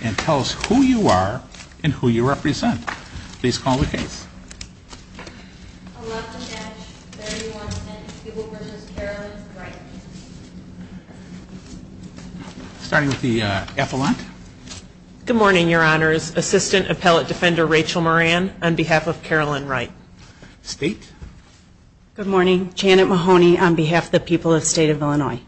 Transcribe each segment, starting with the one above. and tell us who you are and who you represent. Please call the case. Starting with the affluent. Good morning, Your Honors. Assistant Appellate Defender Rachel Moran, on behalf of Carolyn Wright. State. Good morning, Janet Mahoney, on behalf of the people of the state of Illinois.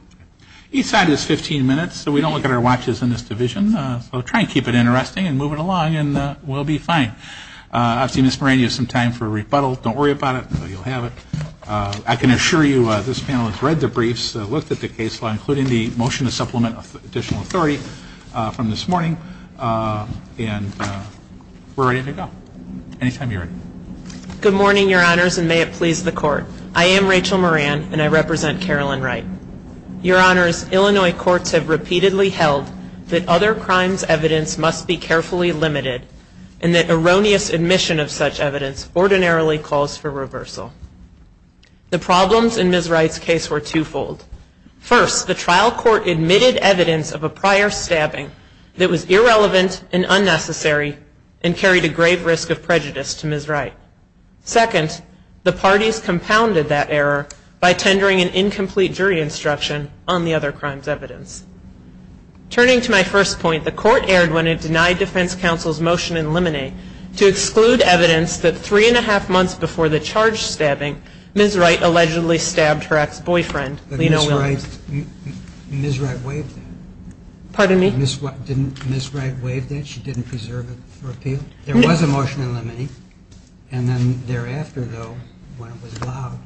Each side is 15 minutes, so we don't look at our watches in this division. So try and keep it interesting and move it along and we'll be fine. I've seen Ms. Moran use some time for rebuttal. Don't worry about it. You'll have it. I can assure you this panel has read the briefs, looked at the case law, including the motion to supplement additional authority from this morning, and we're ready to go. Anytime you're ready. Good morning, Your Honors, and may it please the Court. I am Rachel Moran and I represent Carolyn Wright. Your Honors, Illinois courts have repeatedly held that other crimes' evidence must be carefully limited and that erroneous admission of such evidence ordinarily calls for reversal. The problems in Ms. Wright's case were twofold. First, the trial court admitted evidence of a prior stabbing that was irrelevant and unnecessary and carried a grave risk of prejudice to Ms. Wright. Second, the parties compounded that error by tendering an incomplete jury instruction on the other crime's evidence. Turning to my first point, the Court erred when it denied Defense Counsel's motion in limine to exclude evidence that three-and-a-half months before the charge stabbing, Ms. Wright allegedly stabbed her ex-boyfriend, Lino Williams. But Ms. Wright waived that. Pardon me? Ms. Wright waived that? She didn't preserve it for appeal? There was a motion in limine, and then thereafter, though, when it was allowed,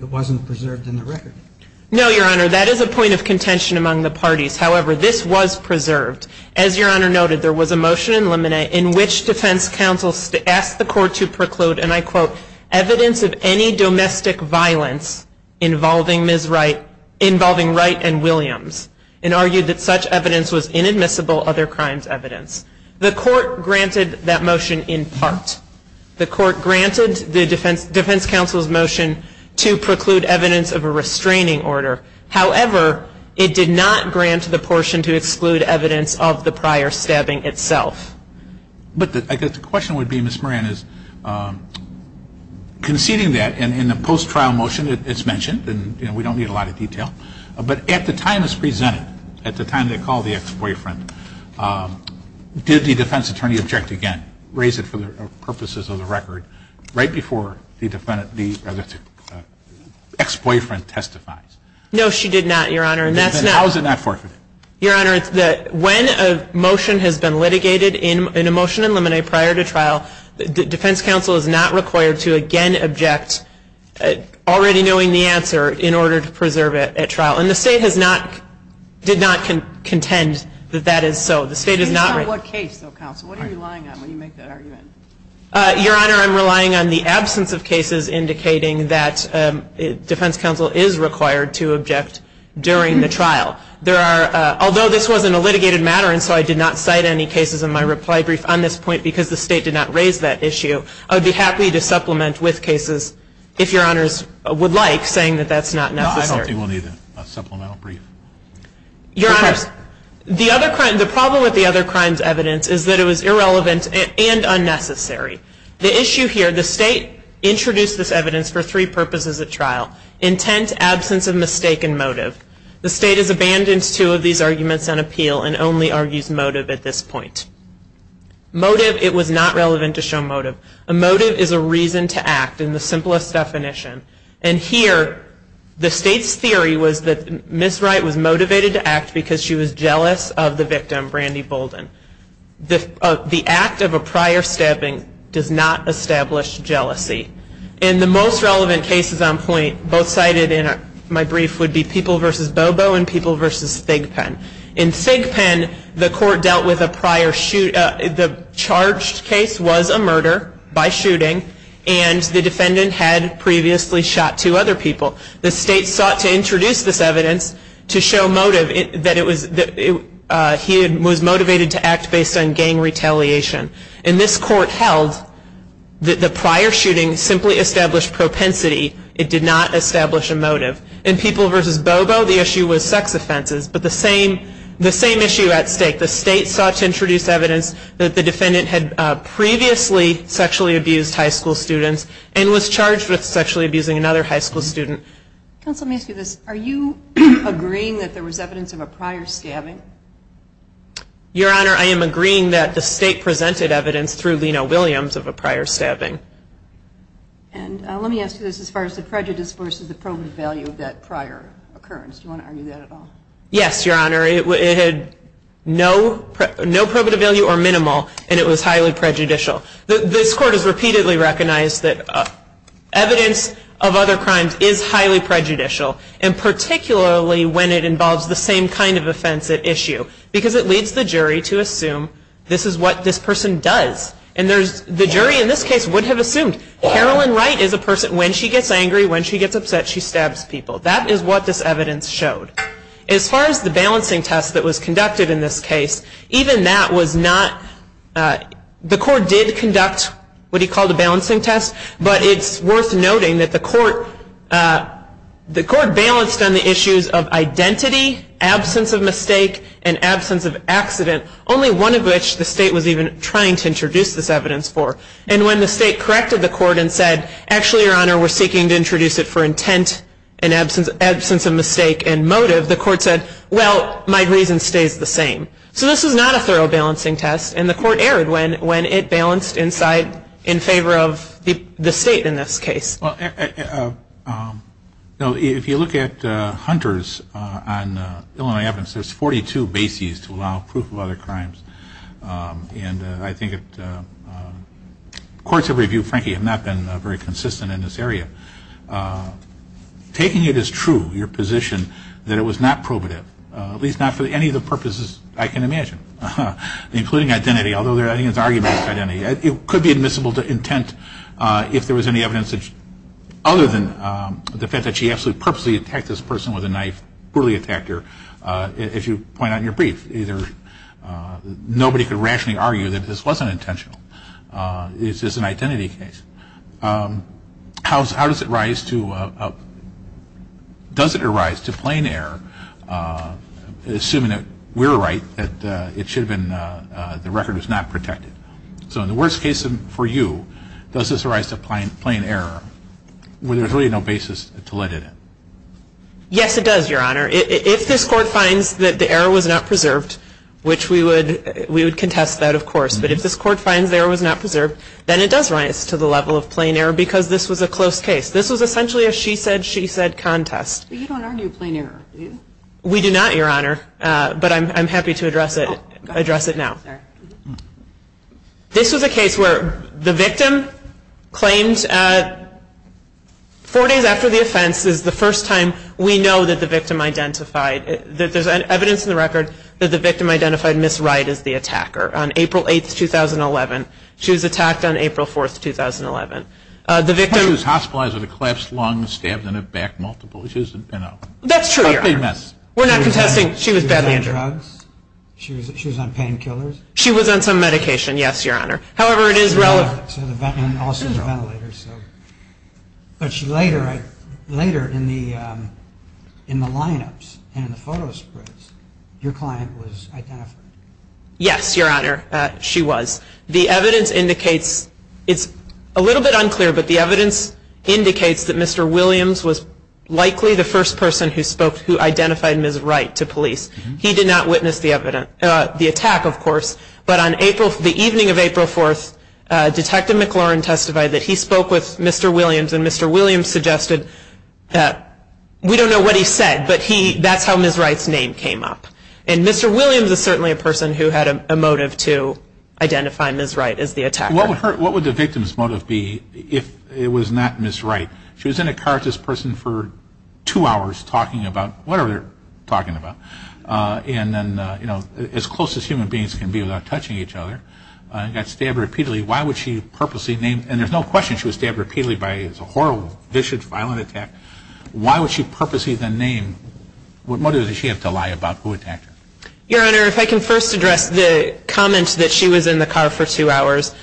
it wasn't preserved in the record. No, Your Honor, that is a point of contention among the parties. However, this was preserved. As Your Honor noted, there was a motion in limine in which Defense Counsel asked the Court to preclude, and I quote, evidence of any domestic violence involving Ms. Wright, involving Wright and Williams, and argued that such evidence was inadmissible other crime's evidence. The Court granted that motion in part. The Court granted the Defense Counsel's motion to preclude evidence of a restraining order. However, it did not grant the portion to exclude evidence of the prior stabbing itself. But I guess the question would be, Ms. Moran, is conceding that in the post-trial motion, it's mentioned, and we don't need a lot of detail, but at the time it's presented, at the time they called the ex-boyfriend, did the defense attorney object again, raise it for the purposes of the record, right before the ex-boyfriend testifies? No, she did not, Your Honor. Then how is it not forfeited? Your Honor, when a motion has been litigated in a motion in limine prior to trial, Defense Counsel is not required to again object, already knowing the answer, in order to preserve it at trial. And the State has not, did not contend that that is so. It's not what case, though, Counsel. What are you relying on when you make that argument? Your Honor, I'm relying on the absence of cases indicating that Defense Counsel is required to object during the trial. There are, although this wasn't a litigated matter, and so I did not cite any cases in my reply brief on this point, because the State did not raise that issue, I would be happy to supplement with cases, if Your Honors would like, saying that that's not necessary. No, I don't think we'll need a supplemental brief. Your Honors, the problem with the other crime's evidence is that it was irrelevant and unnecessary. The issue here, the State introduced this evidence for three purposes at trial, intent, absence of mistake, and motive. The State has abandoned two of these arguments on appeal and only argues motive at this point. Motive, it was not relevant to show motive. A motive is a reason to act, in the simplest definition. And here, the State's theory was that Ms. Wright was motivated to act because she was jealous of the victim, Brandy Bolden. The act of a prior stabbing does not establish jealousy. And the most relevant cases on point, both cited in my brief, would be People v. Bobo and People v. Thigpen. In Thigpen, the court dealt with a prior, the charged case was a murder by shooting, and the defendant had previously shot two other people. The State sought to introduce this evidence to show motive, that he was motivated to act based on gang retaliation. And this court held that the prior shooting simply established propensity, it did not establish a motive. In People v. Bobo, the issue was sex offenses, but the same issue at stake. The State sought to introduce evidence that the defendant had previously sexually abused high school students, and was charged with sexually abusing another high school student. Counsel, let me ask you this. Are you agreeing that there was evidence of a prior stabbing? Your Honor, I am agreeing that the State presented evidence through Lino Williams of a prior stabbing. And let me ask you this, as far as the prejudice versus the probative value of that prior occurrence, do you want to argue that at all? Yes, Your Honor, it had no probative value or minimal, and it was highly prejudicial. This court has repeatedly recognized that evidence of other crimes is highly prejudicial, and particularly when it involves the same kind of offense at issue, because it leads the jury to assume this is what this person does. And the jury in this case would have assumed Carolyn Wright is a person, when she gets angry, when she gets upset, she stabs people. That is what this evidence showed. As far as the balancing test that was conducted in this case, even that was not, the court did conduct what he called a balancing test, but it's worth noting that the court balanced on the issues of identity, absence of mistake, and absence of accident, only one of which the State was even trying to introduce this evidence for. And when the State corrected the court and said, actually, Your Honor, we're seeking to introduce it for intent and absence of mistake and motive, the court said, well, my reason stays the same. So this is not a thorough balancing test, and the court erred when it balanced in favor of the State in this case. Well, if you look at Hunter's on Illinois evidence, there's 42 bases to allow proof of other crimes. And I think courts have reviewed, frankly, have not been very consistent in this area. Taking it as true, your position, that it was not probative, at least not for any of the purposes I can imagine, including identity, although there are arguments for identity, it could be admissible to intent if there was any evidence other than the fact that she absolutely purposely attacked this person with a knife, poorly attacked her. If you point out in your brief, nobody could rationally argue that this wasn't intentional. It's just an identity case. So, how does it rise to, does it arise to plain error, assuming that we're right, that it should have been, the record is not protected? So in the worst case for you, does this arise to plain error, where there's really no basis to let it in? Yes, it does, Your Honor. If this court finds that the error was not preserved, which we would contest that, of course, but if this court finds the error was not preserved, then it does rise to the level of plain error, because this was a close case. This was essentially a she said, she said contest. But you don't argue plain error, do you? We do not, Your Honor, but I'm happy to address it now. This was a case where the victim claimed four days after the offense is the first time we know that the victim identified, that there's evidence in the record that the victim identified Ms. Wright as the attacker on April 8th, 2011. She was attacked on April 4th, 2011. The victim was hospitalized with a collapsed lung and stabbed in the back multiple times. That's true, Your Honor. We're not contesting she was badly injured. She was on drugs? She was on painkillers? She was on some medication, yes, Your Honor. However, it is relevant. And also the ventilator. But later in the lineups and the photo sprints, your client was identified? Yes, Your Honor, she was. The evidence indicates, it's a little bit unclear, but the evidence indicates that Mr. Williams was likely the first person who spoke, who identified Ms. Wright to police. He did not witness the attack, of course. But on the evening of April 4th, Detective McLaurin testified that he spoke with Mr. Williams and Mr. Williams suggested that we don't know what he said, but that's how Ms. Wright's name came up. And Mr. Williams is certainly a person who had a motive to identify Ms. Wright as the attacker. What would the victim's motive be if it was not Ms. Wright? She was in a car with this person for two hours talking about whatever they're talking about. And then, you know, as close as human beings can be without touching each other. And got stabbed repeatedly. Why would she purposely name? And there's no question she was stabbed repeatedly by a horrible, vicious, violent attack. Why would she purposely then name? What motive does she have to lie about who attacked her? Your Honor, if I can first address the comment that she was in the car for two hours.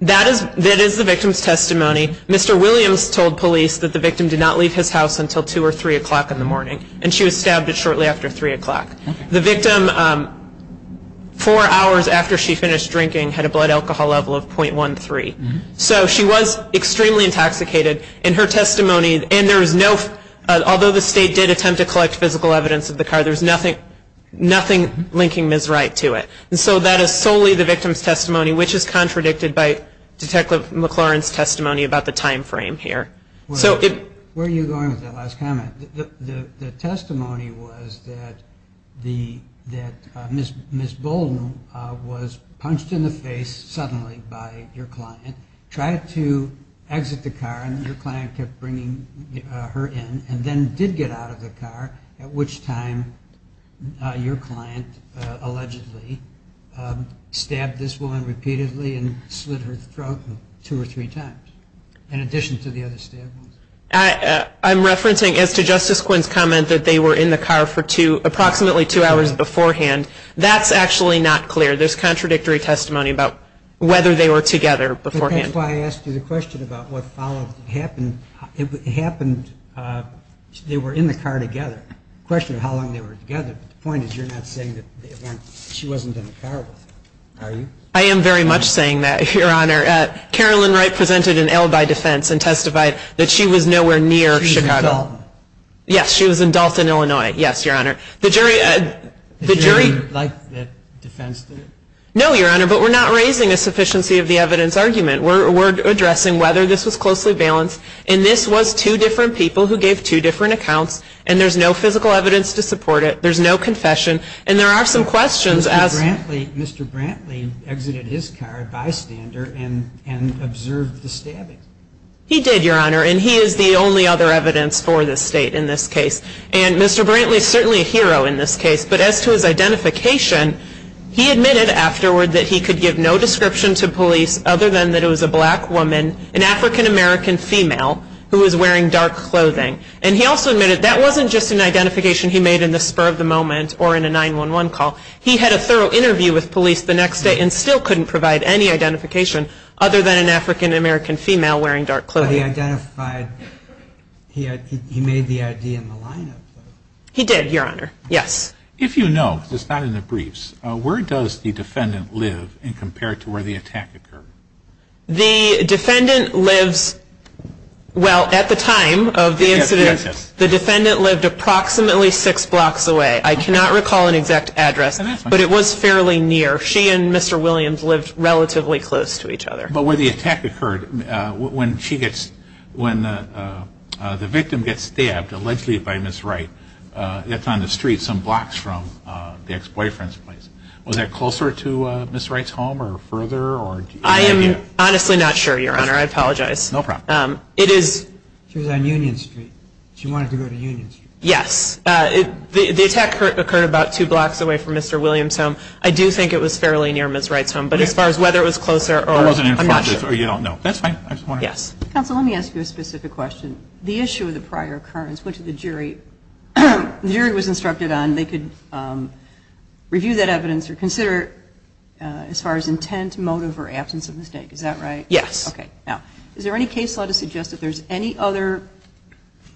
That is the victim's testimony. Mr. Williams told police that the victim did not leave his house until 2 or 3 o'clock in the morning. And she was stabbed shortly after 3 o'clock. The victim, four hours after she finished drinking, had a blood alcohol level of .13. So she was extremely intoxicated in her testimony. And there was no, although the state did attempt to collect physical evidence of the car, there was nothing linking Ms. Wright to it. And so that is solely the victim's testimony, which is contradicted by Detective McLaurin's testimony about the time frame here. Where are you going with that last comment? The testimony was that Ms. Bolden was punched in the face suddenly by your client, tried to exit the car, and your client kept bringing her in, and then did get out of the car, at which time your client allegedly stabbed this woman repeatedly and slit her throat two or three times, in addition to the other stab wounds. I'm referencing as to Justice Quinn's comment that they were in the car for approximately two hours beforehand. That's actually not clear. There's contradictory testimony about whether they were together beforehand. That's why I asked you the question about what followed. It happened, they were in the car together. The question is how long they were together. But the point is you're not saying that she wasn't in the car with him, are you? I am very much saying that, Your Honor. Carolyn Wright presented an L by defense and testified that she was nowhere near Chicago. She was in Dalton. Yes, she was in Dalton, Illinois. Yes, Your Honor. The jury liked that defense. No, Your Honor, but we're not raising a sufficiency of the evidence argument. We're addressing whether this was closely balanced, and this was two different people who gave two different accounts, and there's no physical evidence to support it. There's no confession, and there are some questions. Mr. Brantley exited his car bystander and observed the stabbing. He did, Your Honor, and he is the only other evidence for this state in this case. And Mr. Brantley is certainly a hero in this case, but as to his identification, he admitted afterward that he could give no description to police other than that it was a black woman, an African-American female, who was wearing dark clothing. And he also admitted that wasn't just an identification he made in the spur of the moment or in a 911 call. He had a thorough interview with police the next day and still couldn't provide any identification other than an African-American female wearing dark clothing. But he identified, he made the ID in the lineup. He did, Your Honor. Yes. If you know, because it's not in the briefs, where does the defendant live compared to where the attack occurred? The defendant lives, well, at the time of the incident, the defendant lived approximately six blocks away. I cannot recall an exact address, but it was fairly near. She and Mr. Williams lived relatively close to each other. But where the attack occurred, when the victim gets stabbed, allegedly by Ms. Wright, it's on the street some blocks from the ex-boyfriend's place. Was that closer to Ms. Wright's home or further? I am honestly not sure, Your Honor. I apologize. No problem. It is. She was on Union Street. She wanted to go to Union Street. Yes. The attack occurred about two blocks away from Mr. Williams' home. I do think it was fairly near Ms. Wright's home. But as far as whether it was closer or not, I'm not sure. That's fine. Yes. Counsel, let me ask you a specific question. The issue of the prior occurrence went to the jury. The jury was instructed on they could review that evidence or consider it as far as intent, motive, or absence of mistake. Is that right? Yes. Okay. Now, is there any case law to suggest that there's any other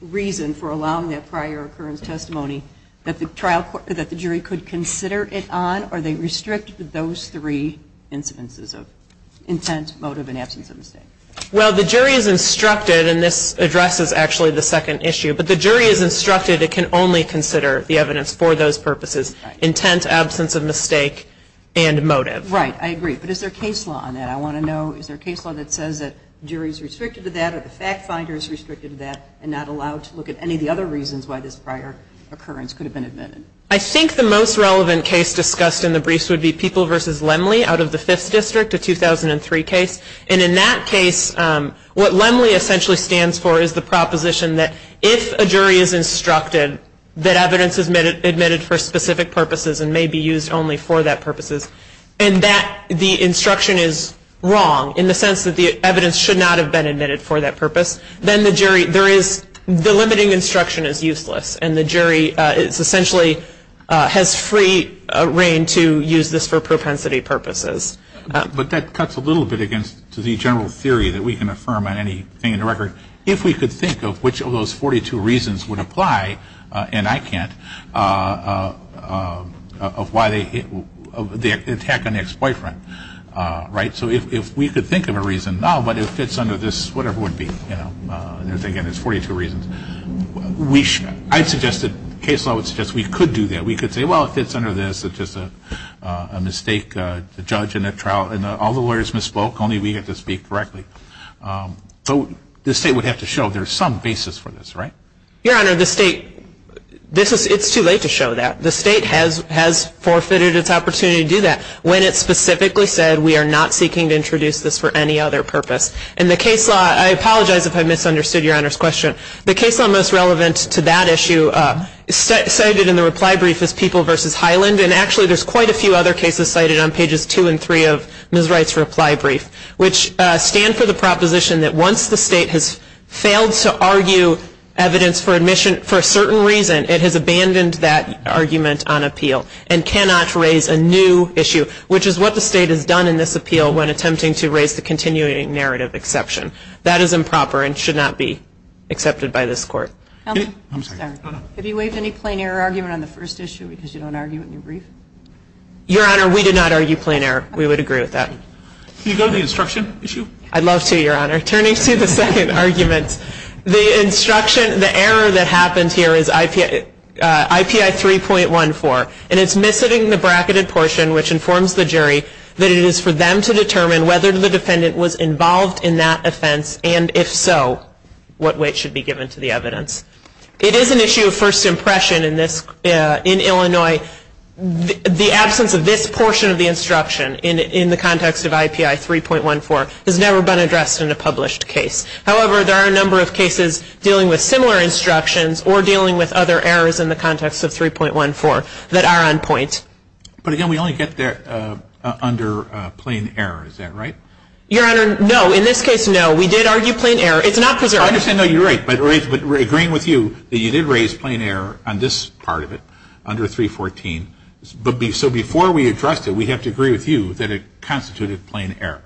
reason for allowing that prior occurrence testimony that the jury could consider it on, or they restrict those three incidences of intent, motive, and absence of mistake? Well, the jury is instructed, and this addresses actually the second issue, but the jury is instructed it can only consider the evidence for those purposes, intent, absence of mistake, and motive. Right. I agree. But is there a case law on that? I want to know, is there a case law that says that jury is restricted to that or the fact finder is restricted to that and not allowed to look at any of the other reasons why this prior occurrence could have been admitted? I think the most relevant case discussed in the briefs would be People v. Lemley out of the Fifth District, a 2003 case. And in that case, what Lemley essentially stands for is the proposition that if a jury is instructed that evidence is admitted for specific purposes and may be used only for that purposes, and the instruction is wrong in the sense that the evidence should not have been admitted for that purpose, then the limiting instruction is useless, and the jury essentially has free reign to use this for propensity purposes. But that cuts a little bit against the general theory that we can affirm on anything in the record. If we could think of which of those 42 reasons would apply, and I can't, of why they attack an ex-boyfriend, right, so if we could think of a reason, no, but if it's under this, whatever it would be, you know, there's 42 reasons, I'd suggest that case law would suggest we could do that. We could say, well, if it's under this, it's just a mistake, a judge in a trial, and all the lawyers misspoke, only we get to speak correctly. So the state would have to show there's some basis for this, right? Your Honor, the state, it's too late to show that. The state has forfeited its opportunity to do that when it specifically said we are not seeking to introduce this for any other purpose. In the case law, I apologize if I misunderstood Your Honor's question. The case law most relevant to that issue cited in the reply brief is People v. Highland, and actually there's quite a few other cases cited on pages 2 and 3 of Ms. Wright's reply brief, which stand for the proposition that once the state has failed to argue evidence for admission for a certain reason, it has abandoned that argument on appeal and cannot raise a new issue, which is what the state has done in this appeal when attempting to raise the continuing narrative exception. That is improper and should not be accepted by this court. Have you waived any plain error argument on the first issue because you don't argue in your brief? Your Honor, we did not argue plain error. We would agree with that. Can you go to the instruction issue? I'd love to, Your Honor. Turning to the second argument, the instruction, the error that happened here is IPI 3.14, and it's missing the bracketed portion, which informs the jury that it is for them to determine whether the defendant was involved in that offense, and if so, what weight should be given to the evidence. It is an issue of first impression in Illinois. The absence of this portion of the instruction in the context of IPI 3.14 has never been addressed in a published case. However, there are a number of cases dealing with similar instructions or dealing with other errors in the context of 3.14 that are on point. But again, we only get that under plain error. Is that right? Your Honor, no. In this case, no. We did argue plain error. It's not preserved. I understand that you're right. But agreeing with you, you did raise plain error on this part of it under 3.14. So before we address it, we have to agree with you that it constituted plain error.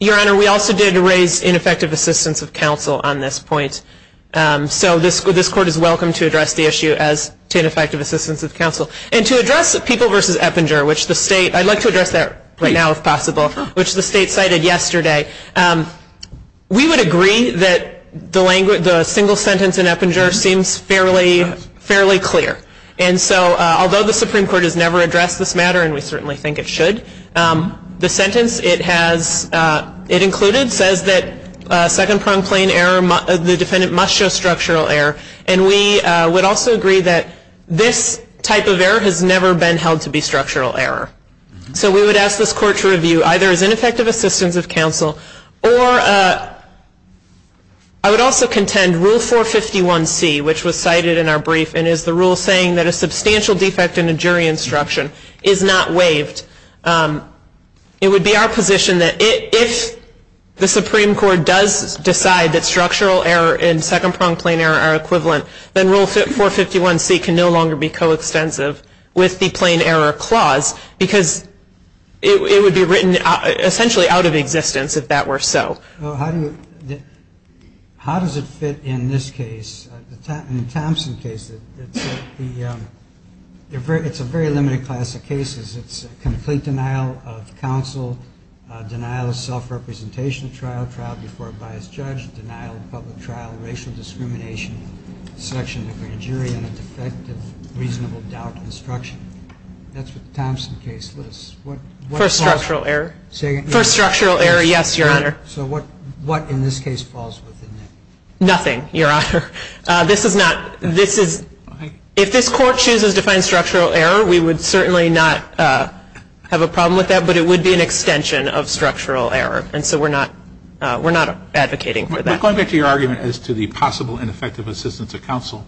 Your Honor, we also did raise ineffective assistance of counsel on this point. So this court is welcome to address the issue as to ineffective assistance of counsel. And to address the people versus Eppinger, which the state, I'd like to address that right now if possible, which the state cited yesterday. We would agree that the single sentence in Eppinger seems fairly clear. And so, although the Supreme Court has never addressed this matter, and we certainly think it should, the sentence it included says that second-pronged plain error, the defendant must show structural error. And we would also agree that this type of error has never been held to be structural error. So we would ask this court to review either as ineffective assistance of counsel or I would also contend Rule 451C, which was cited in our brief and is the rule saying that a substantial defect in a jury instruction is not waived. It would be our position that if the Supreme Court does decide that structural error and second-pronged plain error are equivalent, then Rule 451C can no longer be coextensive with the plain error clause because it would be written essentially out of existence if that were so. How does it fit in this case, in the Thompson case? It's a very limited class of cases. It's complete denial of counsel, denial of self-representation trial, trial before a biased judge, denial of public trial, racial discrimination, selection of a grand jury, and a defect of reasonable doubt instruction. That's what the Thompson case lists. For structural error? For structural error, yes, Your Honor. So what in this case falls within that? Nothing, Your Honor. This is not, this is, if this court chooses to find structural error, we would certainly not have a problem with that, but it would be an extension of structural error. And so we're not advocating for that. Going back to your argument as to the possible and effective assistance of counsel,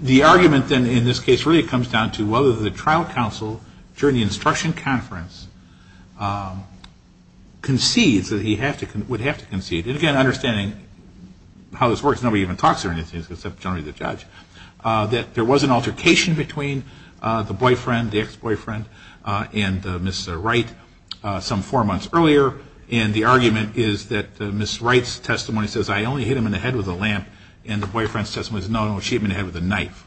the argument then in this case really comes down to whether the trial counsel, during the instruction conference, concedes that he would have to concede. And again, understanding how this works, nobody even talks or anything except generally the judge, that there was an altercation between the boyfriend, the ex-boyfriend, and Ms. Wright some four months earlier. And the argument is that Ms. Wright's testimony says, I only hit him in the head with a lamp, and the boyfriend's testimony says, No, no, she hit him in the head with a knife.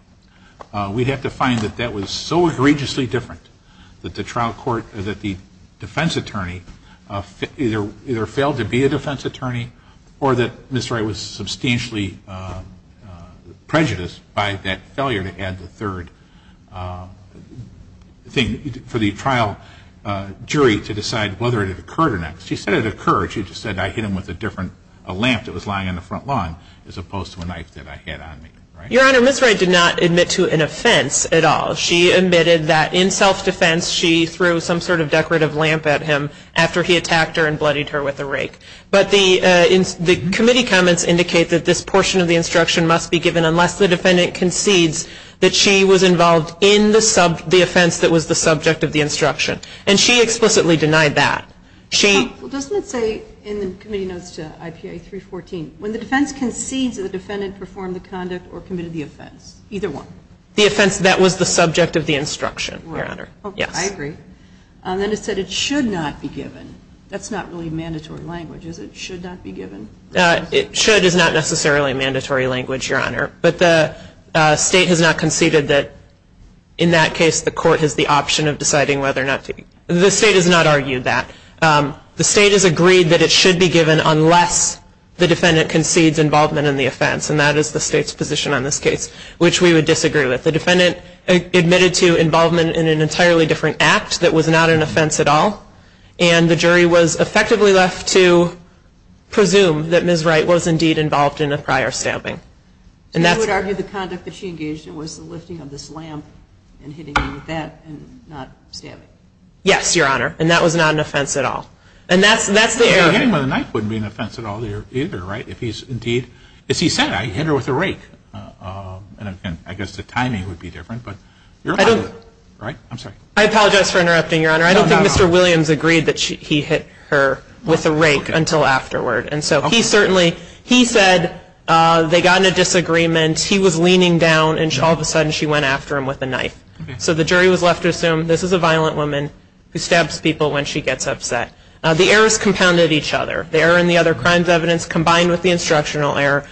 We'd have to find that that was so egregiously different that the trial court, that the defense attorney either failed to be a defense attorney or that Ms. Wright was substantially prejudiced by that failure to add the third thing. So it's up to the trial jury to decide whether it occurred or not. Because she said it occurred. She just said, I hit him with a different, a lamp that was lying on the front lawn, as opposed to a knife that I had on me. Your Honor, Ms. Wright did not admit to an offense at all. She admitted that in self-defense, she threw some sort of decorative lamp at him after he attacked her and bloodied her with a rake. But the committee comments indicate that this portion of the instruction must be given that she was involved in the offense that was the subject of the instruction. And she explicitly denied that. Doesn't it say in the committee notes to IPA 314, when the defense concedes that the defendant performed the conduct or committed the offense? Either one. The offense that was the subject of the instruction, Your Honor. I agree. Then it said it should not be given. That's not really mandatory language, is it? Should not be given. Should is not necessarily a mandatory language, Your Honor. But the state has not conceded that in that case the court has the option of deciding whether or not to. The state has not argued that. The state has agreed that it should be given unless the defendant concedes involvement in the offense. And that is the state's position on this case, which we would disagree with. The defendant admitted to involvement in an entirely different act that was not an offense at all. And the jury was effectively left to presume that Ms. Wright was indeed involved in a prior stamping. So you would argue the conduct that she engaged in was the lifting of this lamp and hitting me with that and not stamping? Yes, Your Honor. And that was not an offense at all. And that's the error. Well, hitting me with a knife wouldn't be an offense at all either, right? If he's indeed, as he said, I hit her with a rake. And I guess the timing would be different. But you're right, right? I'm sorry. I apologize for interrupting, Your Honor. I don't think Mr. Williams agreed that he hit her with a rake until afterward. And so he certainly, he said they got in a disagreement, he was leaning down, and all of a sudden she went after him with a knife. So the jury was left to assume this is a violent woman who stabs people when she gets upset. The errors compounded each other. The error in the other crimes evidence combined with the instructional error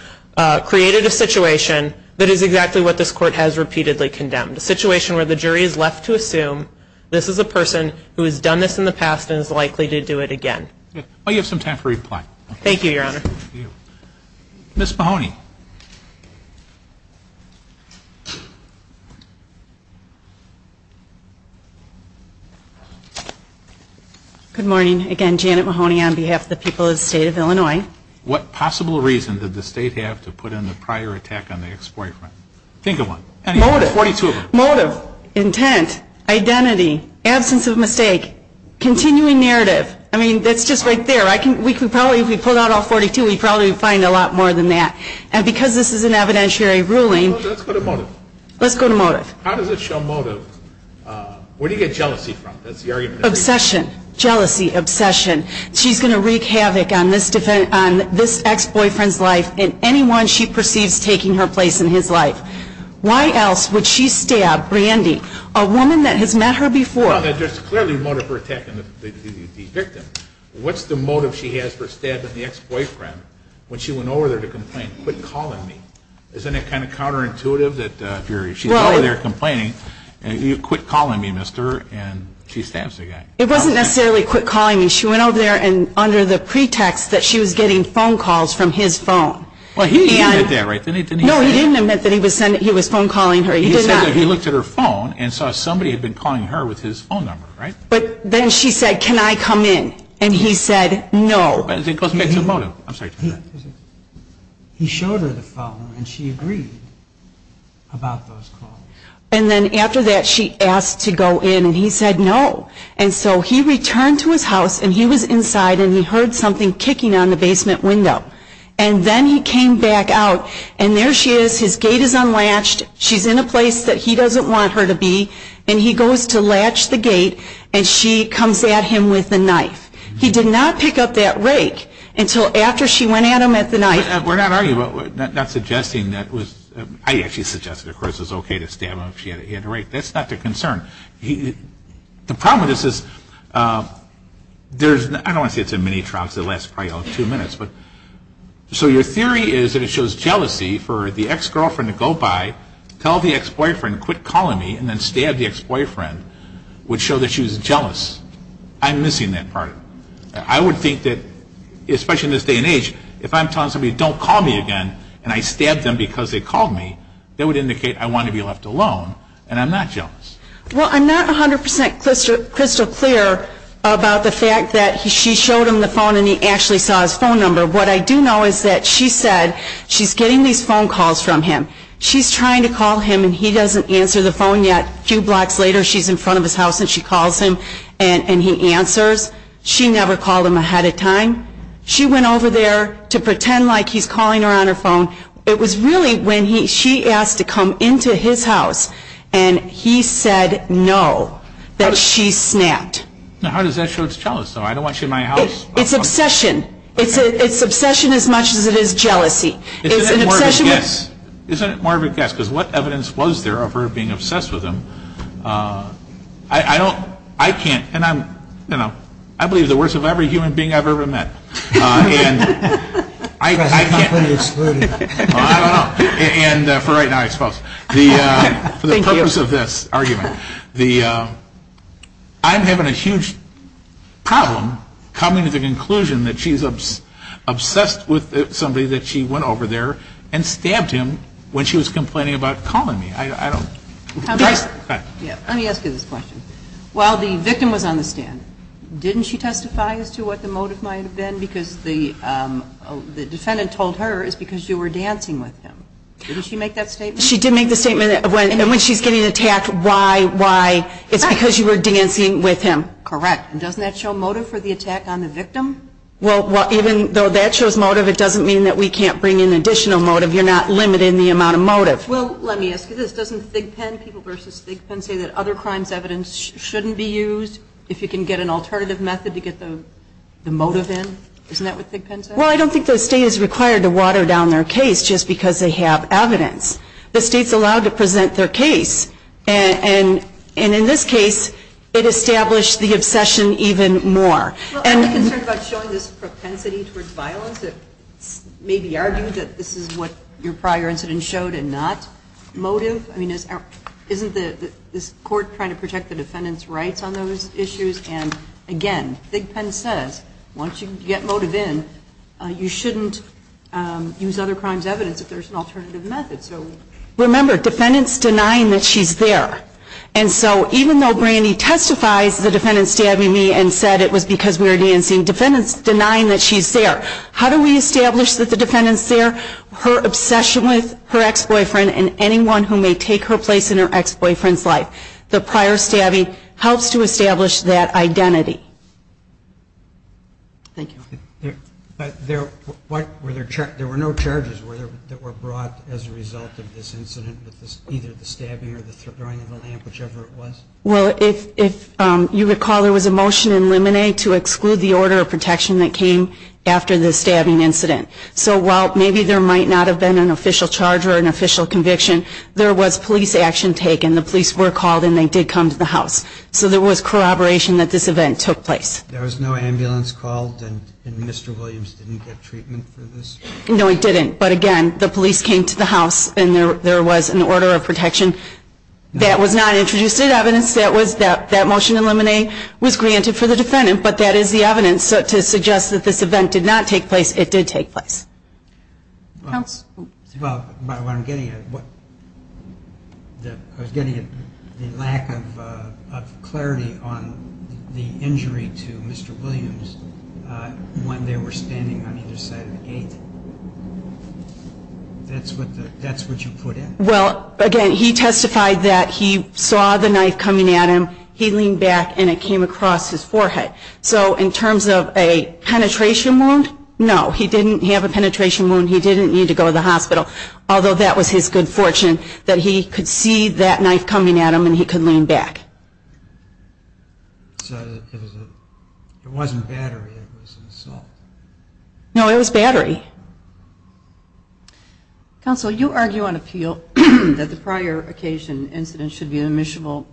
created a situation that is exactly what this court has repeatedly condemned, a situation where the jury is left to assume this is a person who has done this in the past and is likely to do it again. Well, you have some time for reply. Thank you, Your Honor. Ms. Mahoney. Good morning. Again, Janet Mahoney on behalf of the people of the state of Illinois. What possible reason did the state have to put in the prior attack on the ex-boyfriend? Think of one. Motive. Motive. Intent. Identity. Absence of mistake. Continuing narrative. I mean, that's just right there. We could probably, if we pulled out all 42, we'd probably find a lot more than that. And because this is an evidentiary ruling. Let's go to motive. Let's go to motive. How does it show motive? Where do you get jealousy from? That's the argument. Obsession. Jealousy. Obsession. She's going to wreak havoc on this ex-boyfriend's life and anyone she perceives taking her place in his life. Why else would she stab Brandy, a woman that has met her before? There's clearly motive for attacking the victim. What's the motive she has for stabbing the ex-boyfriend when she went over there to complain, quit calling me? Isn't it kind of counterintuitive that if she's over there complaining, you quit calling me, mister, and she stabs the guy? It wasn't necessarily quit calling me. She went over there under the pretext that she was getting phone calls from his phone. Well, he didn't admit that, right? No, he didn't admit that he was phone calling her. He did not. He showed her the phone and saw somebody had been calling her with his phone number, right? But then she said, can I come in? And he said no. Because it's a motive. I'm sorry. He showed her the phone and she agreed about those calls. And then after that she asked to go in and he said no. And so he returned to his house and he was inside and he heard something kicking on the basement window. And then he came back out. And there she is. His gate is unlatched. She's in a place that he doesn't want her to be. And he goes to latch the gate and she comes at him with a knife. He did not pick up that rake until after she went at him with the knife. We're not arguing, we're not suggesting that was, I actually suggested, of course, it was okay to stab him if she had the rake. That's not the concern. The problem with this is there's, I don't want to say it's a mini trial because it'll probably last two minutes. So your theory is that it shows jealousy for the ex-girlfriend to go by, tell the ex-boyfriend quit calling me, and then stab the ex-boyfriend would show that she was jealous. I'm missing that part. I would think that, especially in this day and age, if I'm telling somebody don't call me again and I stab them because they called me, that would indicate I want to be left alone and I'm not jealous. Well, I'm not 100% crystal clear about the fact that she showed him the phone and he actually saw his phone number. What I do know is that she said she's getting these phone calls from him. She's trying to call him and he doesn't answer the phone yet. A few blocks later she's in front of his house and she calls him and he answers. She never called him ahead of time. She went over there to pretend like he's calling her on her phone. It was really when she asked to come into his house and he said no, that she snapped. How does that show it's jealousy? I don't want you in my house. It's obsession. It's obsession as much as it is jealousy. Isn't it more of a guess? Because what evidence was there of her being obsessed with him? I don't, I can't, and I'm, you know, I believe the worst of every human being I've ever met. And I can't, I don't know. And for right now I suppose. For the purpose of this argument, I'm having a huge problem coming to the conclusion that she's obsessed with somebody that she went over there and stabbed him when she was complaining about calling me. Let me ask you this question. While the victim was on the stand, didn't she testify as to what the motive might have been? Because the defendant told her it's because you were dancing with him. Didn't she make that statement? She did make the statement. And when she's getting attacked, why, why, it's because you were dancing with him. Correct. And doesn't that show motive for the attack on the victim? Well, even though that shows motive, it doesn't mean that we can't bring in additional motive. You're not limiting the amount of motive. Well, let me ask you this. Doesn't Thigpen, People v. Thigpen, say that other crimes evidence shouldn't be used if you can get an alternative method to get the motive in? Isn't that what Thigpen says? Well, I don't think the state is required to water down their case just because they have evidence. The state's allowed to present their case. And in this case, it established the obsession even more. Well, I'm concerned about showing this propensity towards violence, maybe argue that this is what your prior incident showed and not motive. I mean, isn't the court trying to protect the defendant's rights on those issues? And, again, Thigpen says once you get motive in, you shouldn't use other crimes evidence if there's an alternative method. Remember, defendant's denying that she's there. And so even though Brandy testifies, the defendant's stabbing me and said it was because we were dancing, the defendant's denying that she's there. How do we establish that the defendant's there? Her obsession with her ex-boyfriend and anyone who may take her place in her ex-boyfriend's life. The prior stabbing helps to establish that identity. Thank you. There were no charges that were brought as a result of this incident, either the stabbing or the throwing of the lamp, whichever it was? Well, if you recall, there was a motion in Lemonet to exclude the order of protection that came after the stabbing incident. So while maybe there might not have been an official charge or an official conviction, there was police action taken. The police were called and they did come to the house. So there was corroboration that this event took place. There was no ambulance called and Mr. Williams didn't get treatment for this? No, he didn't. But again, the police came to the house and there was an order of protection. That was not introduced as evidence. That motion in Lemonet was granted for the defendant, but that is the evidence to suggest that this event did not take place, it did take place. By what I'm getting at, I was getting at the lack of clarity on the injury to Mr. Williams when they were standing on either side of the gate. That's what you put in? Well, again, he testified that he saw the knife coming at him. He leaned back and it came across his forehead. So in terms of a penetration wound, no, he didn't have a penetration wound. He didn't need to go to the hospital, although that was his good fortune that he could see that knife coming at him and he could lean back. So it wasn't battery, it was an assault? No, it was battery. Counsel, you argue on appeal that the prior occasion incident should be admissible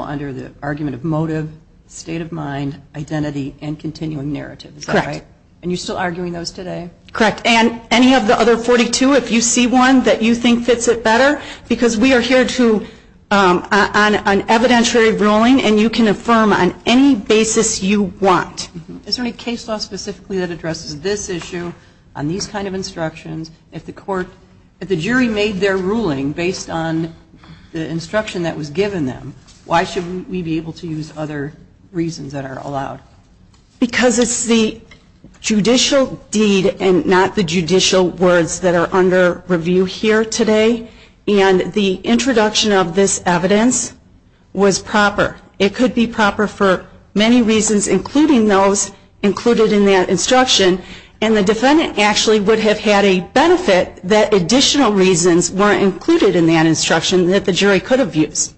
under the argument of motive, state of mind, identity, and continuing narrative, is that right? Correct. And you're still arguing those today? Correct. And any of the other 42, if you see one that you think fits it better, because we are here on an evidentiary ruling and you can affirm on any basis you want. Is there any case law specifically that addresses this issue on these kind of instructions? If the jury made their ruling based on the instruction that was given them, why should we be able to use other reasons that are allowed? Because it's the judicial deed and not the judicial words that are under review here today, and the introduction of this evidence was proper. It could be proper for many reasons, including those included in that instruction, and the defendant actually would have had a benefit that additional reasons weren't included in that instruction that the jury could have used.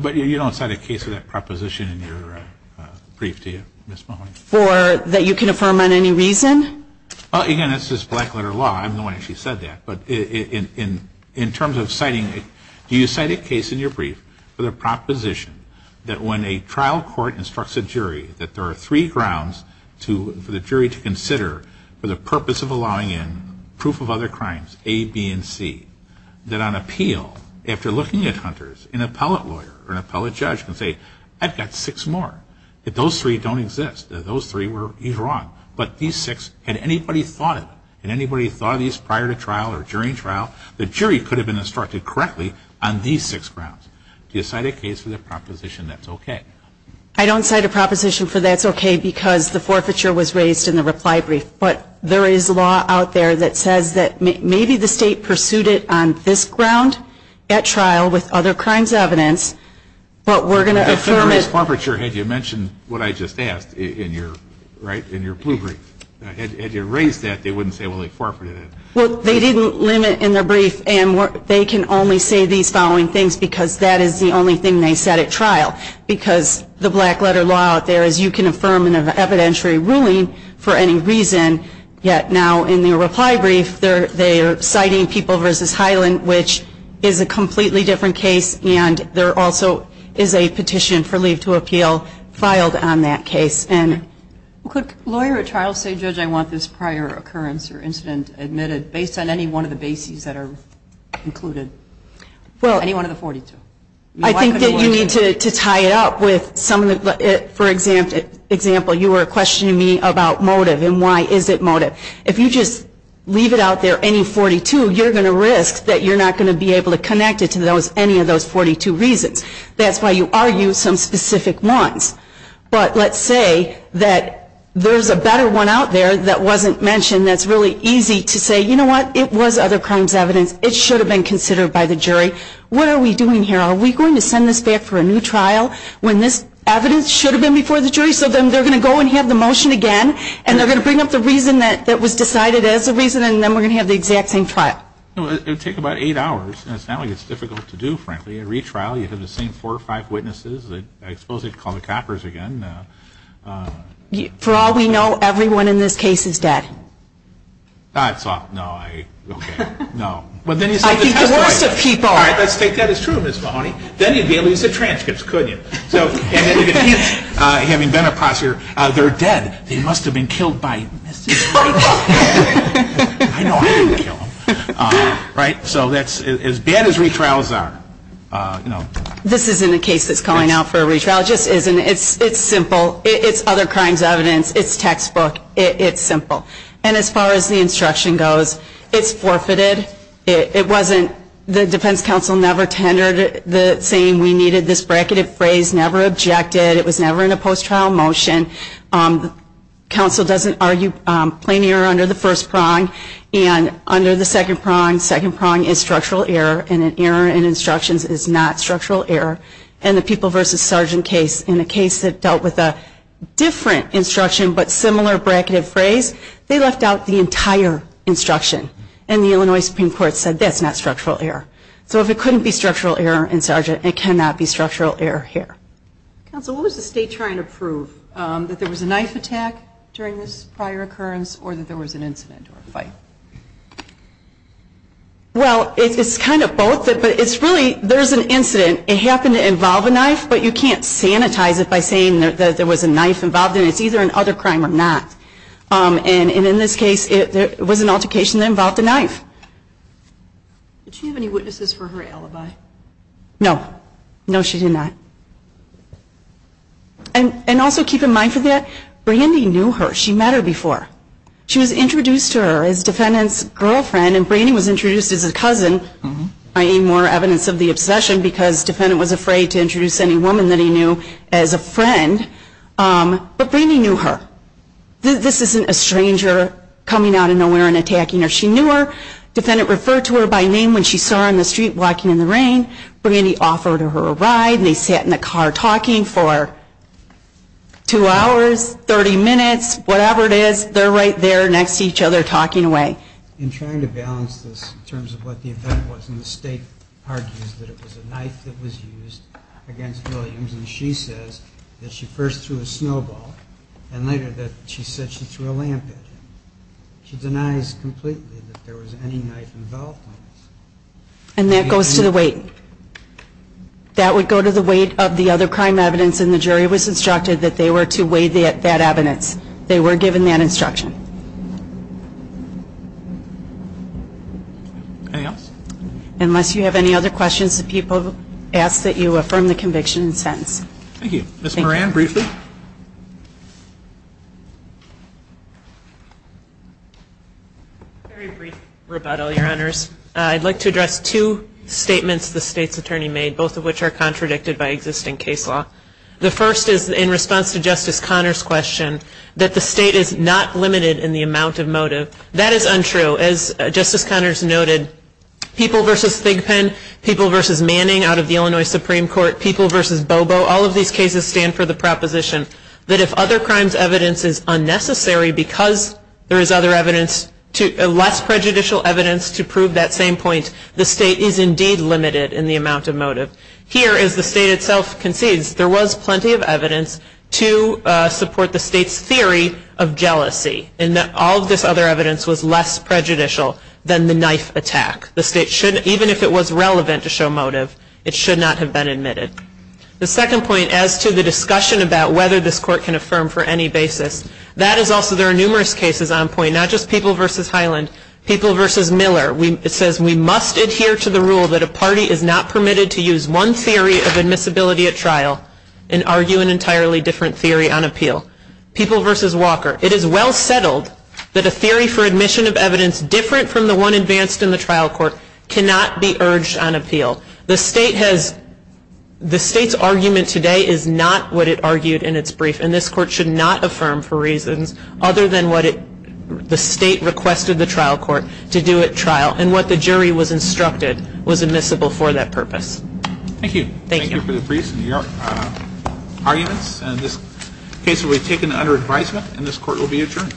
But you don't cite a case of that proposition in your brief, do you, Ms. Mahoney? Or that you can affirm on any reason? Again, this is black letter law. I'm the one who actually said that. But in terms of citing it, do you cite a case in your brief with a proposition that when a trial court instructs a jury that there are three grounds for the jury to consider for the purpose of allowing in proof of other crimes, A, B, and C, that on appeal, after looking at Hunters, an appellate lawyer or an appellate judge can say, I've got six more. Those three don't exist. Those three were wrong. But these six, had anybody thought of them? Had anybody thought of these prior to trial or during trial? The jury could have been instructed correctly on these six grounds. Do you cite a case with a proposition that's okay? I don't cite a proposition for that's okay because the forfeiture was raised in the reply brief. But there is law out there that says that maybe the state pursued it on this ground at trial with other crimes evidence. But we're going to affirm it. You mentioned what I just asked in your blue brief. Had you raised that, they wouldn't say, well, they forfeited it. Well, they didn't limit in their brief. And they can only say these following things because that is the only thing they said at trial. Because the black letter law out there is you can affirm an evidentiary ruling for any reason, yet now in the reply brief they are citing People v. Highland, which is a completely different case. And there also is a petition for leave to appeal filed on that case. Could a lawyer at trial say, Judge, I want this prior occurrence or incident admitted, based on any one of the bases that are included, any one of the 42? I think that you need to tie it up with some of the, for example, you were questioning me about motive and why is it motive. If you just leave it out there, any 42, you're going to risk that you're not going to be able to connect it to any of those 42 reasons. That's why you argue some specific ones. But let's say that there's a better one out there that wasn't mentioned that's really easy to say, you know what, it was other crimes evidence. It should have been considered by the jury. What are we doing here? Are we going to send this back for a new trial when this evidence should have been before the jury? So then they're going to go and have the motion again, and they're going to bring up the reason that was decided as a reason, and then we're going to have the exact same trial. It would take about eight hours, and it's not like it's difficult to do, frankly. A retrial, you have the same four or five witnesses. I suppose they'd call the coppers again. For all we know, everyone in this case is dead. No, I, okay, no. I think the worst of people. All right, let's take that as true, Ms. Mahoney. Then you'd be able to use the transcripts, couldn't you? And then you can hint, having been a prosecutor, they're dead. They must have been killed by Mrs. White. I know I didn't kill them. Right? So that's as bad as retrials are. This isn't a case that's calling out for a retrial. It just isn't. It's simple. It's other crimes evidence. It's textbook. It's simple. And as far as the instruction goes, it's forfeited. It wasn't the defense counsel never tendered saying we needed this bracketed phrase, never objected. It was never in a post-trial motion. Counsel doesn't argue plain error under the first prong. And under the second prong, second prong is structural error, and an error in instructions is not structural error. In the people versus sergeant case, in a case that dealt with a different instruction but similar bracketed phrase, they left out the entire instruction. And the Illinois Supreme Court said that's not structural error. So if it couldn't be structural error in sergeant, it cannot be structural error here. Counsel, what was the state trying to prove, that there was a knife attack during this prior occurrence or that there was an incident or a fight? Well, it's kind of both, but it's really there's an incident. It happened to involve a knife, but you can't sanitize it by saying that there was a knife involved in it. It's either an other crime or not. And in this case, it was an altercation that involved a knife. Did she have any witnesses for her alibi? No. No, she did not. And also keep in mind for that, Brandy knew her. She met her before. She was introduced to her as defendant's girlfriend, and Brandy was introduced as a cousin, i.e., more evidence of the obsession, because defendant was afraid to introduce any woman that he knew as a friend. But Brandy knew her. This isn't a stranger coming out of nowhere and attacking her. She knew her. Defendant referred to her by name when she saw her in the street walking in the rain. Brandy offered her a ride, and they sat in the car talking for two hours, 30 minutes, whatever it is, they're right there next to each other talking away. In trying to balance this in terms of what the event was, and the state argues that it was a knife that was used against Williams, and she says that she first threw a snowball, and later that she said she threw a lamp. She denies completely that there was any knife involved. And that goes to the weight. That would go to the weight of the other crime evidence, and the jury was instructed that they were to weigh that evidence. They were given that instruction. Anything else? Unless you have any other questions, the people ask that you affirm the conviction and sentence. Thank you. Ms. Moran, briefly. Very brief rebuttal, Your Honors. I'd like to address two statements the state's attorney made, both of which are contradicted by existing case law. The first is in response to Justice Connors' question that the state is not limited in the amount of motive. That is untrue. As Justice Connors noted, people versus Thigpen, people versus Manning out of the Illinois Supreme Court, people versus Bobo, all of these cases stand for the proposition that if other crimes' evidence is unnecessary because there is other evidence, less prejudicial evidence to prove that same point, the state is indeed limited in the amount of motive. Here, as the state itself concedes, there was plenty of evidence to support the state's theory of jealousy, and that all of this other evidence was less prejudicial than the knife attack. The state should, even if it was relevant to show motive, it should not have been admitted. The second point as to the discussion about whether this court can affirm for any basis, that is also there are numerous cases on point, not just people versus Highland, people versus Miller. It says we must adhere to the rule that a party is not permitted to use one theory of admissibility at trial and argue an entirely different theory on appeal. People versus Walker. It is well settled that a theory for admission of evidence different from the one advanced in the trial court cannot be urged on appeal. The state's argument today is not what it argued in its brief, and this court should not affirm for reasons other than what the state requested the trial court to do at trial and what the jury was instructed was admissible for that purpose. Thank you. Thank you for the briefs and your arguments. And this case will be taken under advisement, and this court will be adjourned.